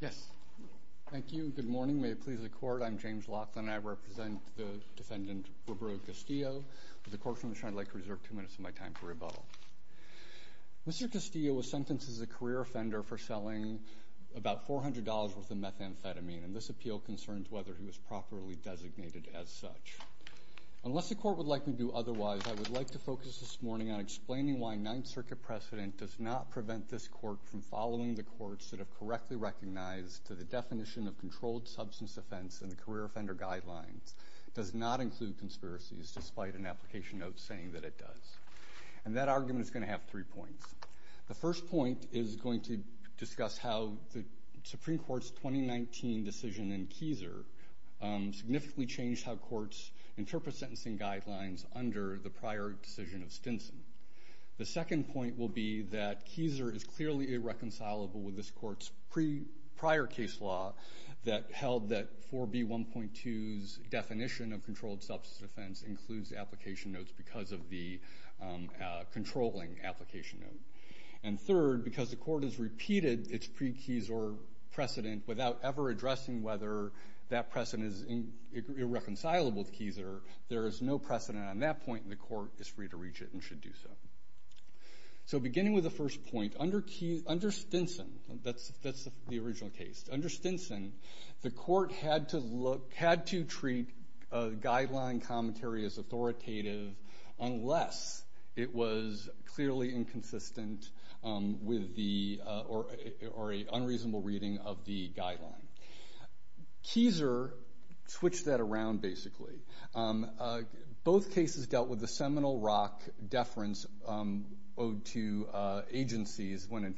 Yes. Thank you. Good morning. May it please the court. I'm James Laughlin, and I represent the defendant, Roberto Castillo, with a court from which I'd like to reserve two minutes of my time for rebuttal. Mr. Castillo was sentenced as a career offender for selling about $400 worth of methamphetamine, and this appeal concerns whether he was properly designated as such. Unless the court would like me to do otherwise, I would like to focus this morning on explaining why Ninth Circuit precedent does not prevent this court from following the precedent recognized to the definition of controlled substance offense and the career offender guidelines does not include conspiracies, despite an application note saying that it does. And that argument is gonna have three points. The first point is going to discuss how the Supreme Court's 2019 decision in Keiser significantly changed how courts interpret sentencing guidelines under the prior decision of Stinson. The second point will be that Keiser is clearly irreconcilable with this prior case law that held that 4B1.2's definition of controlled substance offense includes application notes because of the controlling application note. And third, because the court has repeated its pre-Keiser precedent without ever addressing whether that precedent is irreconcilable with Keiser, there is no precedent on that point, and the court is free to reach it and should do so. So beginning with the first point, under Stinson, that's the original case. Under Stinson, the court had to look... Had to treat guideline commentary as authoritative unless it was clearly inconsistent with the... Or an unreasonable reading of the guideline. Keiser switched that around, basically. Both cases dealt with the seminal rock deference owed to agencies when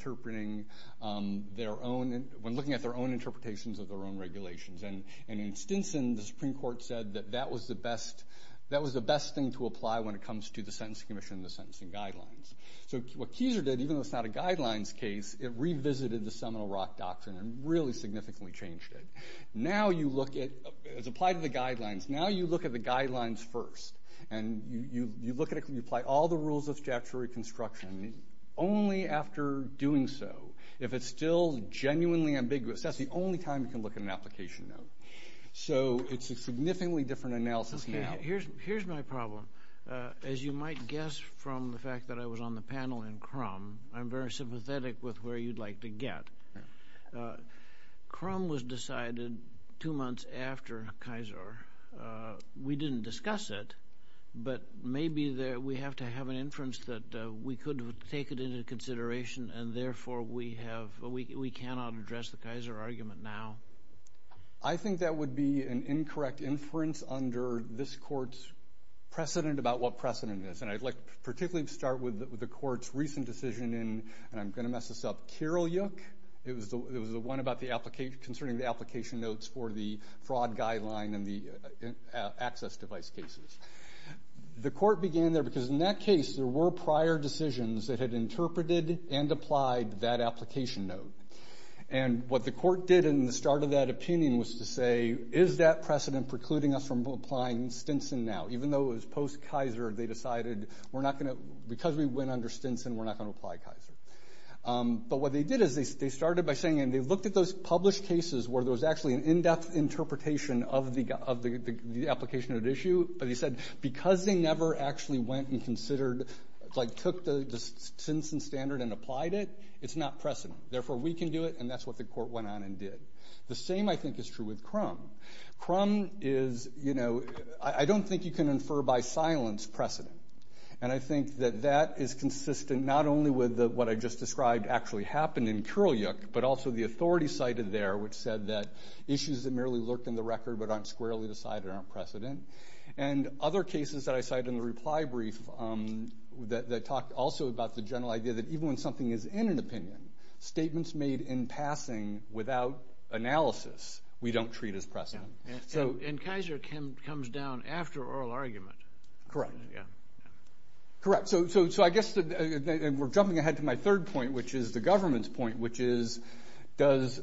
looking at their own interpretations of their own regulations. And in Stinson, the Supreme Court said that that was the best thing to apply when it comes to the Sentencing Commission and the sentencing guidelines. So what Keiser did, even though it's not a guidelines case, it revisited the seminal rock doctrine and really significantly changed it. Now you look at... It's applied to the guidelines. Now you look at the guidelines first, and you look at it... You apply all the rules of statutory construction, only after doing so. If it's still genuinely ambiguous, that's the only time you can look at an application note. So it's a significantly different analysis now. Okay, here's my problem. As you might guess from the fact that I was on the panel in Crum, I'm very sympathetic with where you'd like to get. Crum was decided two months after Keiser. We didn't discuss it, but maybe we have to have an inference that we could take it into consideration, and therefore we have... We cannot address the Keiser argument now. I think that would be an incorrect inference under this court's precedent about what precedent is. And I'd like to particularly start with the court's recent decision in, and I'm gonna mess this up, Kirolyuk. It was the one about the application... Concerning the application notes for the fraud guideline and the access device cases. The court began there because in that case, there were prior decisions that had interpreted and applied that application note. And what the court did in the start of that opinion was to say, is that precedent precluding us from applying Stinson now? Even though it was post Keiser, they decided, we're not gonna... Because we went under Stinson, we're not gonna apply Keiser. But what they did is they started by saying, and they looked at those published cases where there was actually an in depth interpretation of the application note issue, but they said, because they never actually went and considered, took the Stinson standard and applied it, it's not precedent. Therefore, we can do it, and that's what the court went on and did. The same, I think, is true with Crum. Crum is... I don't think you can infer by silence precedent. And I think that that is consistent not only with what I just described actually happened in Kirolyuk, but also the authority cited there, which said that issues that merely lurk in the record, but aren't squarely decided aren't precedent. And other cases that I cite in the reply brief that talk also about the general idea that even when something is in an opinion, statements made in passing without analysis, we don't treat as precedent. And Keiser comes down after oral argument. Correct. Correct. So I guess we're jumping ahead to my third point, which is the government's point, which is, does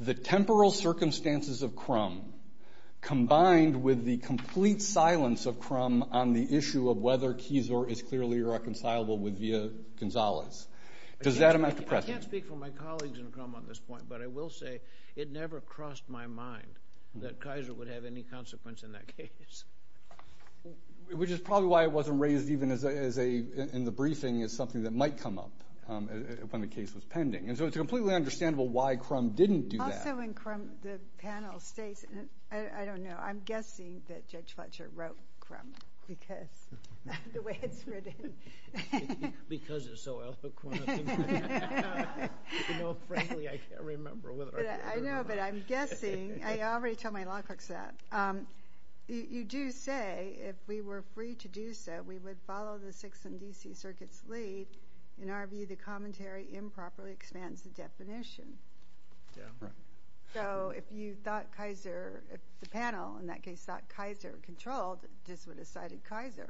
the temporal circumstances of Crum, combined with the complete silence of Crum on the issue of whether Keiser is clearly irreconcilable with Villa Gonzalez. Does that amount to precedent? I can't speak for my colleagues in Crum on this point, but I will say it never crossed my mind that Keiser would have any consequence in that case. Which is probably why it wasn't raised even as a... In the briefing as something that might come up when the case was pending. And so it's completely understandable why Crum didn't do that. Also in Crum, the panel states... I don't know, I'm guessing that Judge Fletcher wrote Crum, because of the way it's written. Because it's so eloquent. Frankly, I can't remember whether... I know, but I'm guessing... I already told my law clerks that. You do say, if we were free to do so, we would follow the 6th and DC circuits' lead. In our view, the commentary improperly expands the definition. So if you thought Keiser... If the panel, in that case, thought Keiser controlled, it just would have cited Keiser.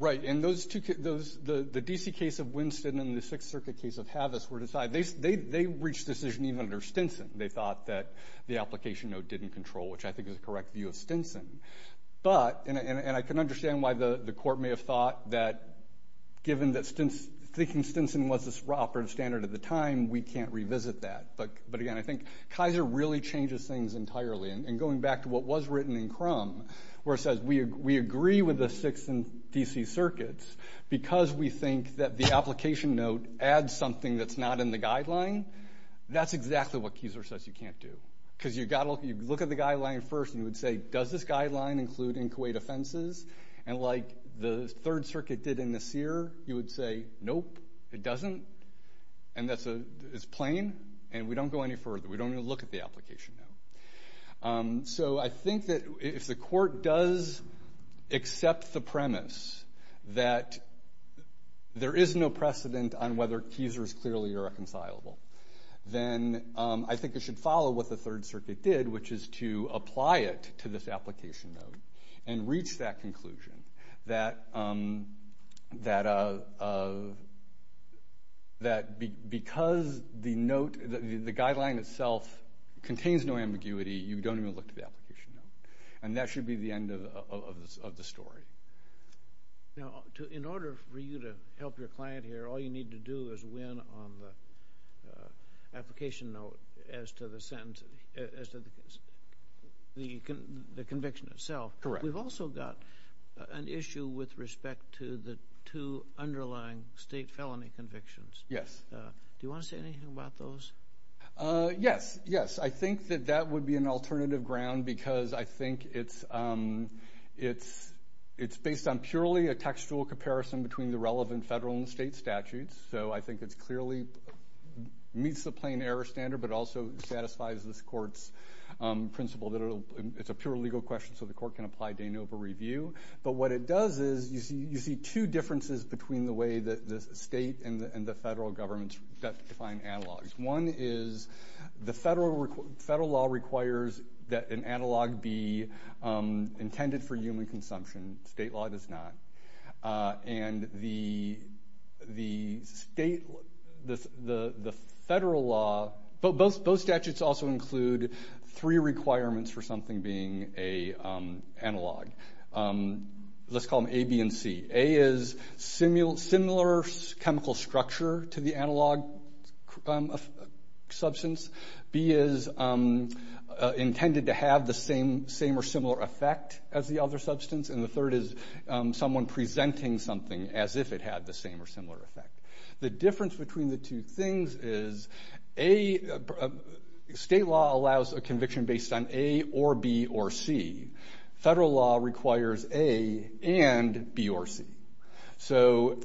Right. And those two... The DC case of Winston and the 6th Circuit case of Havis were decided... They reached a decision even under Stinson. They thought that the application note didn't control, which I think is a correct view of Stinson. But... And I can understand why the court may have thought that, given that... Thinking Stinson was the operative standard at the time, we can't revisit that. But again, I think Keiser really changes things entirely. And going back to what was written in Crum, where it says, we agree with the 6th and DC circuits, because we think that the application note adds something that's not in the guideline, that's exactly what Keiser says you can't do. Because you look at the guideline first, and you would say, does this guideline include in Kuwait offenses? And like the 3rd Circuit did in the Sear, you would say, nope, it doesn't. And that's a... It's plain, and we don't go any further. We don't even look at the application note. So I think that if the court does accept the premise that there is no precedent on whether Keiser is clearly irreconcilable, then I think it should follow what the 3rd Circuit did, which is to apply it to this application note, and reach that conclusion that because the note... The guideline itself contains no ambiguity, you don't even look to the application note. And that should be the end of the story. Now, in order for you to help your client here, all you need to do is win on the application note as to the sentence... As to the conviction itself. Correct. We've also got an issue with respect to the two underlying state felony convictions. Yes. Do you wanna say anything about those? Yes, yes. I think that that would be an alternative ground because I think it's based on purely a textual comparison between the relevant federal and state statutes. So I think it clearly meets the plain error standard, but also satisfies this court's principle that it's a pure legal question so the court can apply de novo review. But what it does is you see two differences between the way that the state and the federal governments define analogs. One is the federal law requires that an analog be intended for human consumption. State law does not. And the federal law... Both statutes also include three requirements for something being an analog. Let's call them A, B, and C. A is similar chemical structure to the analog substance. B is intended to have the same or similar effect as the other substance. And the third is someone presenting something as if it had the same or similar effect. The difference between the two things is state law allows a conviction based on A or B or C. Federal law requires A and B or C. So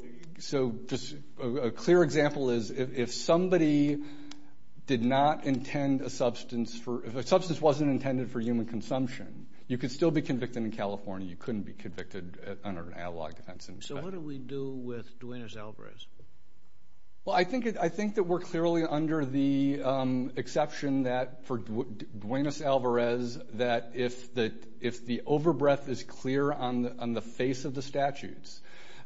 just a clear example is if somebody did not intend a substance for... If a substance wasn't intended for human consumption, you could still be convicted in California. You couldn't be convicted under an analog defense. So what do we do with Duenas Alvarez? Well, I think that we're clearly under the exception that for Duenas Alvarez that if the overbreath is clear on the face of the statutes,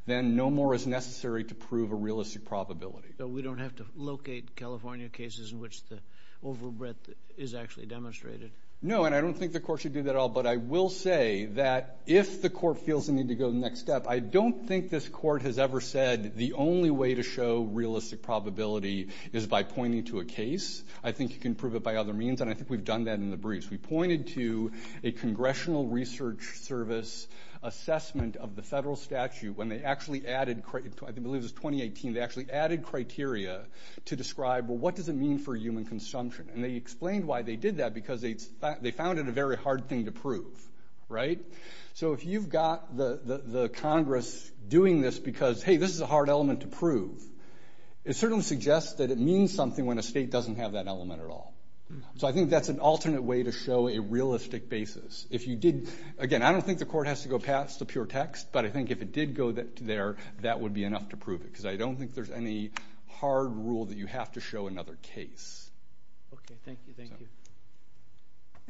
then no more is necessary to prove a realistic probability. So we don't have to locate California cases in which the overbreath is actually demonstrated? No, and I don't think the court should do that at all, but I will say that if the court feels the need to go the next step, I don't think this court has ever said the only way to show realistic probability is by pointing to a case. I think you can prove it by other means, and I think we've done that in the briefs. We pointed to a Congressional Research Service assessment of the federal statute when they actually added... I believe it was 2018, they actually added criteria to describe, well, what does it mean for human consumption? And they explained why they did that, because they found it a very hard thing to prove, right? So if you've got the Congress doing this because, hey, this is a hard element to prove, it certainly suggests that it means something when a state doesn't have that element at all. So I think that's an alternate way to show a realistic basis. If you did... Again, I don't think the court has to go past the pure text, but I think if it did go there, that would be enough to prove it, because I don't think there's any hard rule that you have to show another case. Okay, thank you, thank you.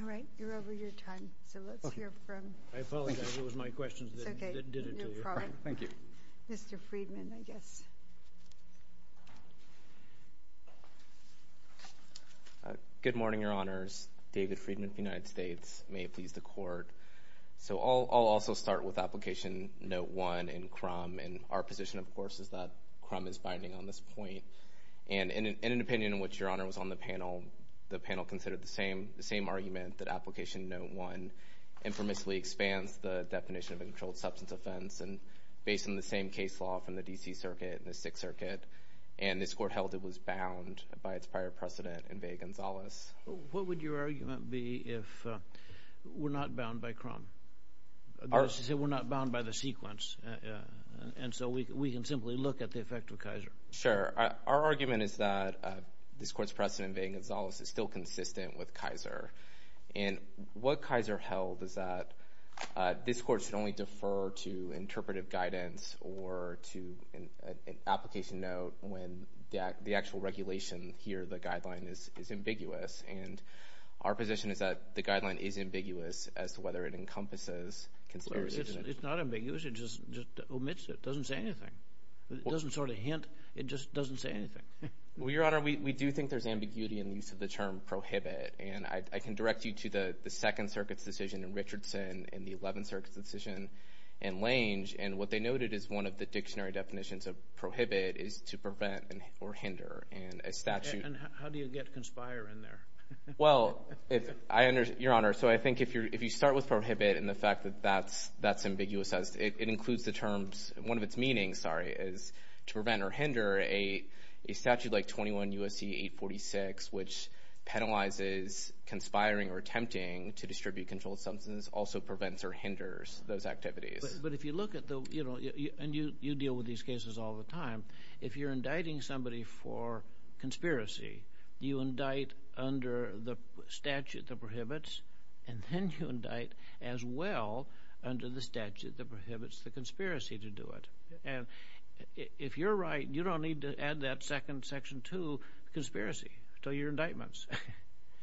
Alright, you're over your time, so let's hear from... I apologize, it was my questions that did it to you. It's okay, no problem. Thank you. Mr. Friedman, I guess. Good morning, Your Honors. David Friedman of the United States. May it please the court. So I'll also start with application note one in Crum, and our position, of course, is that Crum is binding on this point. And in an opinion in which Your Honor was on the panel, the panel considered the same argument, that application note one infamously expands the definition of a controlled substance offense, and based on the same case law from the DC Circuit and the Sixth Circuit, and this court held it was bound by its prior precedent in Vea Gonzales. What would your argument be if we're not bound by Crum? I guess you said we're not bound by the sequence, and so we can simply look at the effect of Kaiser. Sure. Our argument is that this court's precedent in Vea Gonzales is still consistent with Kaiser. And what Kaiser held is that this court should only defer to interpretive guidance or to an application note when the actual regulation here, the guideline, is ambiguous. And our position is that the guideline is ambiguous as to whether it encompasses... It's not ambiguous. It just omits it. It doesn't say anything. It doesn't sort of hint. It just doesn't say anything. Well, Your Honor, we do think there's ambiguity in the use of the term prohibit, and I can direct you to the Second Circuit's decision in Richardson and the Eleventh Circuit's decision in Lange, and what they noted is one of the dictionary definitions of prohibit is to prevent or hinder, and a statute... And how do you get conspire in there? Well, Your Honor, so I think if you start with prohibit and the fact that that's ambiguous, it includes the terms... One of its meanings, sorry, is to prevent or hinder a statute like 21 U.S.C. 846, which penalizes conspiring or attempting to distribute controlled substances also prevents or hinders those activities. But if you look at the... And you deal with these cases all the time. If you're indicting somebody for conspiracy, you indict under the statute that prohibits, and then you indict as well under the statute that prohibits the conspiracy to do it. And if you're right, you don't need to add that second Section 2 conspiracy to your indictments.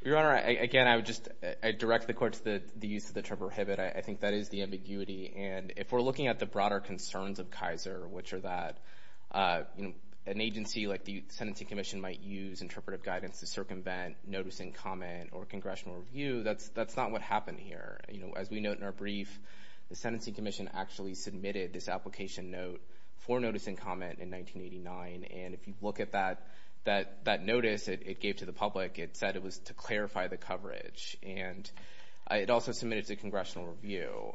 Your Honor, again, I would just... I direct the court to the use of the term prohibit. I think that is the ambiguity. And if we're looking at the broader concerns of Kaiser, which are that an agency like the Sentencing Commission might use interpretive guidance to circumvent notice and comment or congressional review, that's not what happened here. As we note in our brief, the Sentencing Commission actually submitted this application note for notice and comment in 1989. And if you look at that notice it gave to the public, it said it was to clarify the coverage. And it also submitted it to congressional review.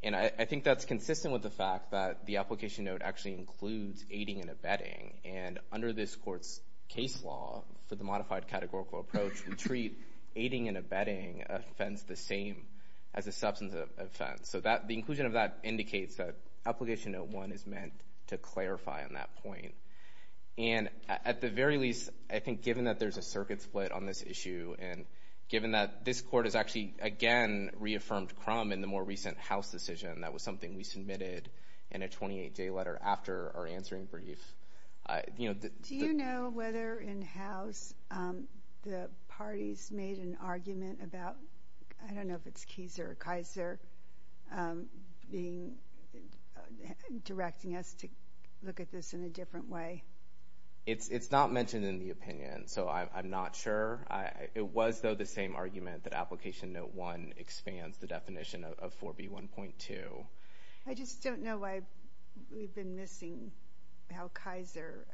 And I think that's consistent with the fact that the application note actually includes aiding and abetting. And under this court's case law, for the modified categorical approach, we treat aiding and abetting offense the same as a substance offense. So the inclusion of that indicates that application note 1 is meant to clarify on that point. And at the very least, I think given that there's a circuit split on this issue, and given that this court has actually, again, reaffirmed Crum in the more recent House decision, that was something we submitted in a 28-day letter after our answering brief. Do you know whether in House the parties made an argument about... I don't know if it's Kaiser being... Directing us to look at this in a different way. It's not mentioned in the opinion, so I'm not sure. It was, though, the same argument that application note 1 expands the definition of 4B1.2. I just don't know why we've been missing how Kaiser...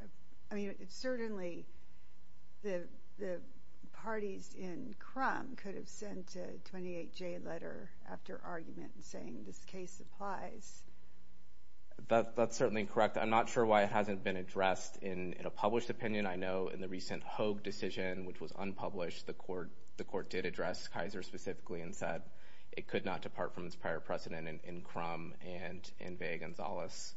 I mean, it's certainly... The parties in Crum could have sent a 28-day letter after argument saying this case applies. That's certainly correct. I'm not sure why it hasn't been addressed in a published opinion. I know in the recent Hogue decision, which was unpublished, the court did address Kaiser specifically and said it could not depart from its prior precedent in Crum and in Vea Gonzales.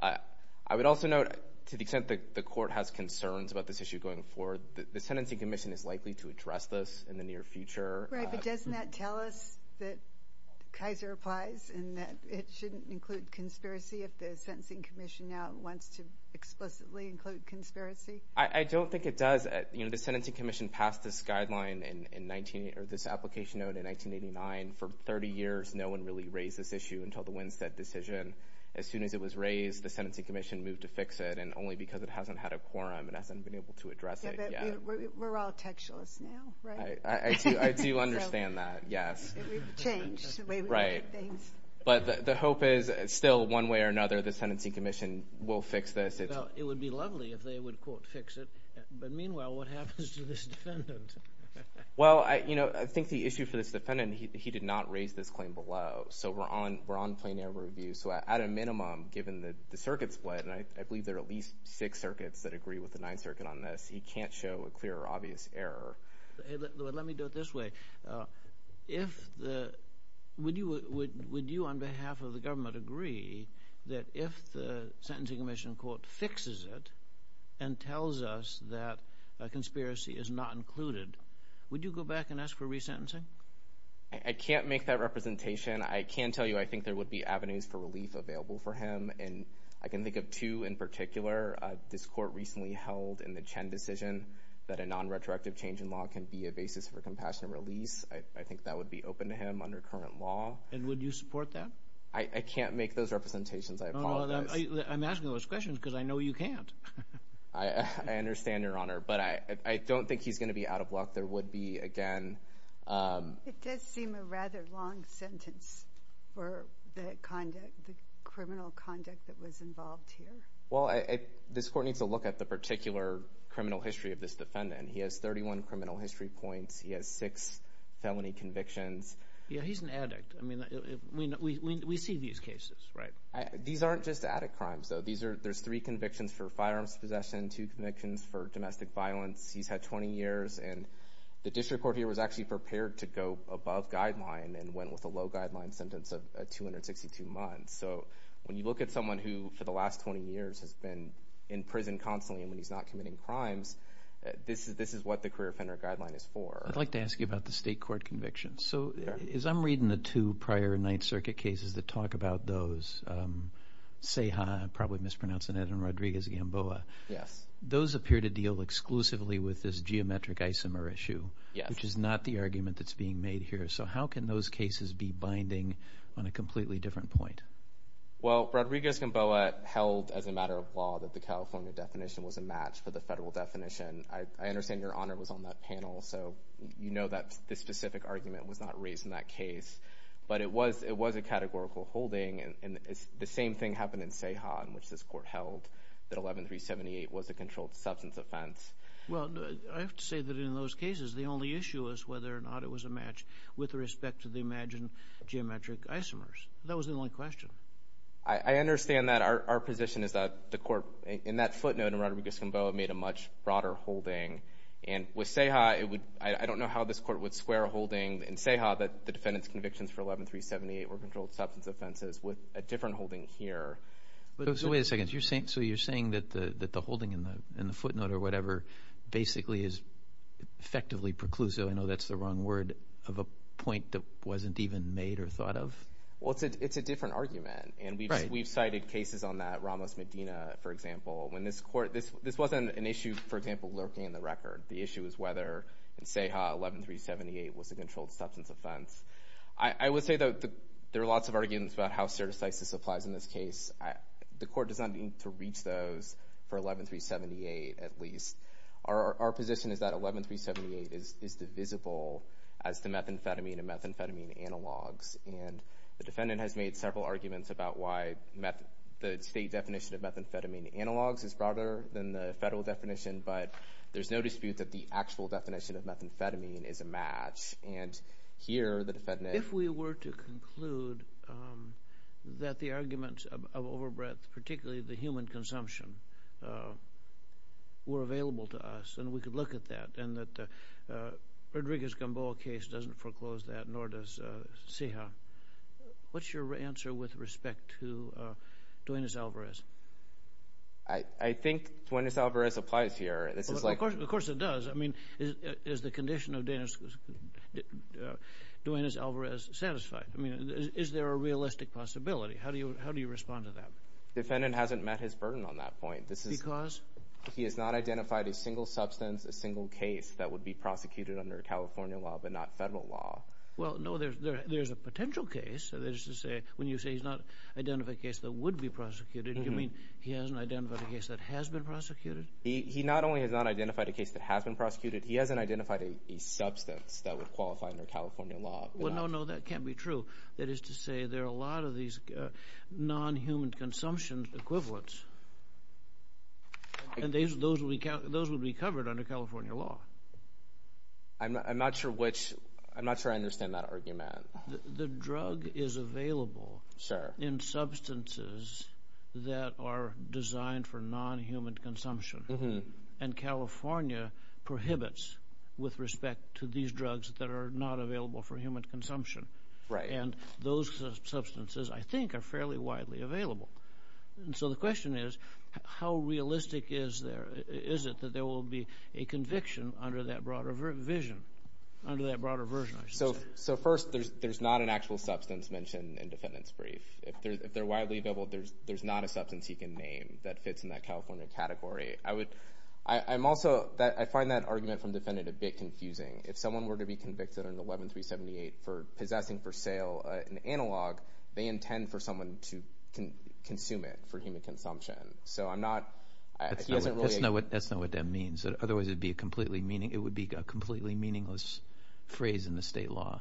I would also note, to the extent that the court has concerns about this issue going forward, the sentencing commission is likely to address this in the near future. Right, but doesn't that tell us that Kaiser applies and that it shouldn't include conspiracy if the sentencing commission now wants to explicitly include conspiracy? I don't think it does. The sentencing commission passed this guideline in 19... Or this application note in 1989. For 30 years, no one really raised this issue until the Winstead decision. As soon as it was raised, the sentencing commission moved to fix it, and only because it hasn't had a quorum, it hasn't been able to address it yet. Yeah, but we're all textualists now, right? I do understand that, yes. And we've changed the way we look at things. Right. But the hope is, still, one way or another, the sentencing commission will fix this. Well, it would be lovely if they would, quote, fix it. But meanwhile, what happens to this defendant? Well, I think the issue for this defendant, he did not raise this claim below. So we're on plain air review. So at a minimum, given the circuit split, and I believe there are at least six circuits that agree with the Ninth Circuit on this, he can't show a clear or obvious error. Let me do it this way. Would you, on behalf of the government, agree that if the sentencing commission court fixes it and tells us that a conspiracy is not included, would you go back and ask for resentencing? I can't make that representation. I can tell you I think there would be avenues for relief available for him. And I can think of two in particular. This court recently held in the Chen decision that a non retroactive change in law can be a basis for compassionate release. I think that would be open to him under current law. And would you support that? I can't make those representations. I apologize. No, no. I'm asking those questions because I know you can't. I understand, Your Honor. But I don't think he's gonna be out of luck. There would be, again... It does seem a rather long sentence for the criminal conduct that was involved here. Well, this court needs to look at the particular criminal history of this defendant. He has 31 criminal history points. He has six felony convictions. Yeah, he's an addict. We see these cases, right? These aren't just addict crimes, though. There's three convictions for firearms possession, two convictions for domestic violence. He's had 20 years. And the district court here was actually prepared to go above guideline and went with a low guideline sentence of 262 months. So when you look at someone who, for the last 20 years, has been in prison constantly, and when he's not committing crimes, this is what the career offender guideline is for. I'd like to ask you about the state court convictions. So as I'm reading the two prior Ninth Circuit cases that talk about those, Seha, I'm probably mispronouncing that, and Rodriguez Gamboa, those appear to deal exclusively with this geometric isomer issue, which is not the argument that's being made here. So how can those cases be binding on a completely different point? Well, Rodriguez Gamboa held, as a matter of law, that the California definition was a match for the federal definition. I understand your honor was on that panel, so you know that the specific argument was not raised in that case. But it was a categorical holding, and the same thing happened in Seha, in which this court held that 11378 was a controlled substance offense. Well, I have to say that in those cases, the only issue is whether or not it was a match for the federal definition. That was the only question. I understand that our position is that the court, in that footnote in Rodriguez Gamboa, made a much broader holding. And with Seha, it would... I don't know how this court would square a holding in Seha that the defendant's convictions for 11378 were controlled substance offenses with a different holding here. So wait a second. So you're saying that the holding in the footnote or whatever, basically is effectively preclusive. I know that's the wrong word of a point that wasn't even made or thought of. Well, it's a different argument. And we've cited cases on that, Ramos Medina, for example. When this court... This wasn't an issue, for example, lurking in the record. The issue is whether in Seha 11378 was a controlled substance offense. I would say, though, there are lots of arguments about how certisisis applies in this case. The court does not need to reach those for 11378, at least. Our position is that 11378 is divisible as the methamphetamine and methamphetamine analogs. And the defendant has made several arguments about why the state definition of methamphetamine analogs is broader than the federal definition, but there's no dispute that the actual definition of methamphetamine is a match. And here, the defendant... If we were to conclude that the arguments of overbreadth, particularly the human consumption, were available to us, and we could look at that, and that Rodriguez Gamboa case doesn't foreclose that, nor does Seha, what's your answer with respect to Duenas Alvarez? I think Duenas Alvarez applies here. This is like... Of course it does. I mean, is the condition of Duenas Alvarez satisfied? I mean, is there a realistic possibility? How do you respond to that? The defendant hasn't met his burden on that point. This is... Because? He has not identified a single substance, a single case, that would be prosecuted under California law, but not federal law. Well, no, there's a potential case, that is to say, when you say he's not identified a case that would be prosecuted, you mean he hasn't identified a case that has been prosecuted? He not only has not identified a case that has been prosecuted, he hasn't identified a substance that would qualify under California law. Well, no, no, that can't be true. That is to say, there are a lot of these non human consumption equivalents, and those would be covered under California law. I'm not sure which... I'm not sure I understand that argument. The drug is available in substances that are designed for non human consumption, and California prohibits with respect to these drugs that are not available for human consumption. Right. And those substances, I think, are fairly widely available. And so the question is, how realistic is it that there will be a conviction under that broader vision, under that broader version, I should say? So first, there's not an actual substance mentioned in defendant's brief. If they're widely available, there's not a substance he can name that fits in that California category. I would... I'm also... I find that argument from defendant a bit confusing. If someone were to be convicted on 11378 for possessing for sale an analog, they intend for someone to consume it for human consumption. So I'm not... That's not what that means. Otherwise, it'd be a completely meaning... It would be a completely meaningless phrase in the state law.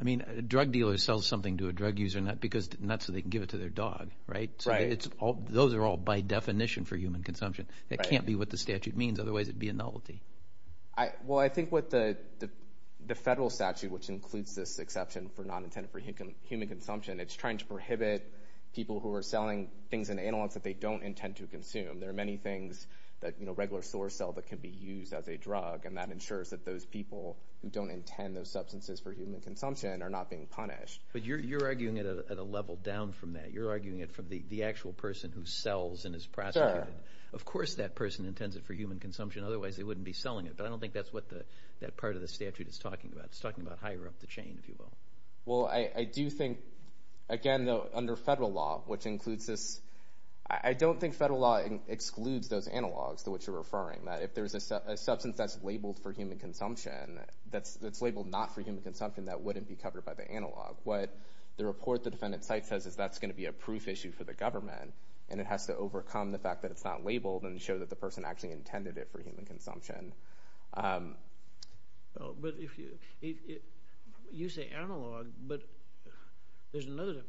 I mean, a drug dealer sells something to a drug user not because... Not so they can give it to their dog, right? Right. So those are all by definition for human consumption. It can't be what the statute means, otherwise it'd be a nullity. Well, I think what the federal statute, which includes this exception for not intended for human consumption, it's trying to prohibit people who are selling things in analogs that they don't intend to consume. There are many things that regular source sell that can be used as a drug, and that ensures that those people who don't intend those substances for human consumption are not being punished. But you're arguing it at a level down from that. You're arguing it from the actual person who sells and is prosecuted. Sure. Of course, that person intends it for human consumption. Otherwise, they wouldn't be selling it. But I don't think that's what that part of the statute is talking about. It's talking about higher up the chain, if you will. Well, I do think, again, though, under federal law, which includes this... I don't think federal law excludes those analogs to which you're referring. That if there's a substance that's labeled for human consumption, that's labeled not for human consumption, that wouldn't be covered by the analog. What the report the defendant cites says is that's gonna be a proof issue for the government, and it has to overcome the fact that it's not labeled, and show that the person actually intended it for human consumption. But if you... You say analog, but there's another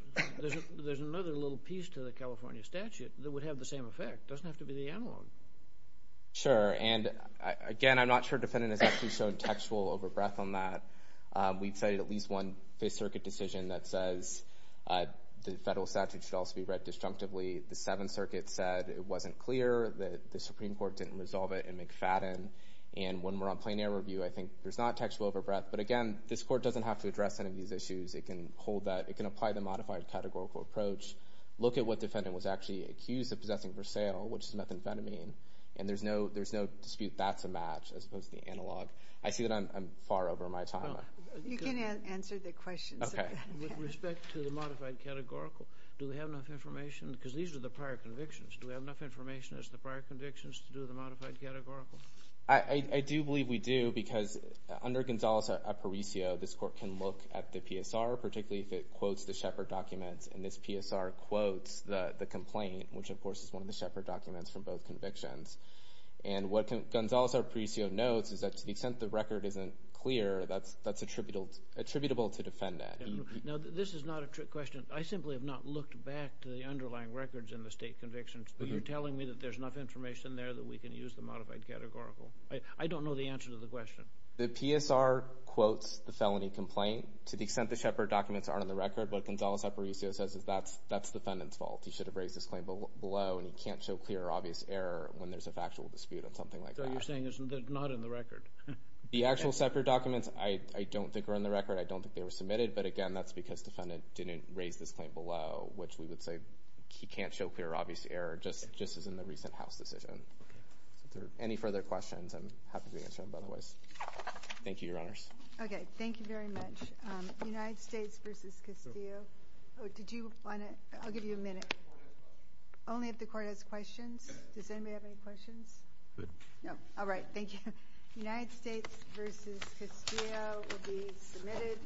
little piece to the California statute that would have the same effect. It doesn't have to be the analog. Sure. And again, I'm not sure the defendant has actually shown textual over breath on that. We've cited at least one Fifth Circuit decision that says the federal statute should also be read destructively. The Seventh Circuit said it wasn't clear, that the Supreme Court didn't resolve it in McFadden. And when we're on plenary review, I think there's not textual over breath. But again, this court doesn't have to address any of these issues. It can hold that... It can apply the modified categorical approach, look at what defendant was actually accused of possessing for sale, which is methamphetamine, and there's no dispute that's a match, as opposed to the analog. I see that I'm far over my time. You can answer the questions. Okay. With respect to the modified categorical, do we have enough information? Because these are the prior convictions. Do we have enough information as the prior convictions to do the modified categorical? I do believe we do, because under Gonzales Aparicio, this court can look at the PSR, particularly if it quotes the Shepherd documents, and this PSR quotes the complaint, which, of course, is one of the Shepherd documents from both convictions. And what Gonzales Aparicio notes is that to the extent the record isn't clear, that's attributable to defendant. Now, this is not a trick question. I simply have not looked back to the underlying records in the state convictions, but you're telling me that there's enough information there that we can use the modified categorical. I don't know the answer to the question. The PSR quotes the felony complaint. To the extent the Shepherd documents aren't in the record, what Gonzales Aparicio says is that's defendant's fault. He should have raised his claim below, and he can't show clear or obvious error when there's a factual dispute or something like that. So you're saying it's not in the record. The actual Shepherd documents, I don't think are in the record. I don't think they were submitted. But again, that's because defendant didn't raise this claim below, which we would say he can't show clear or obvious error, just as in the recent House decision. If there are any further questions, I'm happy to answer them, by the way. Thank you, Your Honors. Okay. Thank you very much. United States versus Castillo. Did you wanna... I'll give you a minute. Only if the court has questions. Does anybody have any questions? Good. No. Alright. Thank you. United States versus Castillo will be submitted.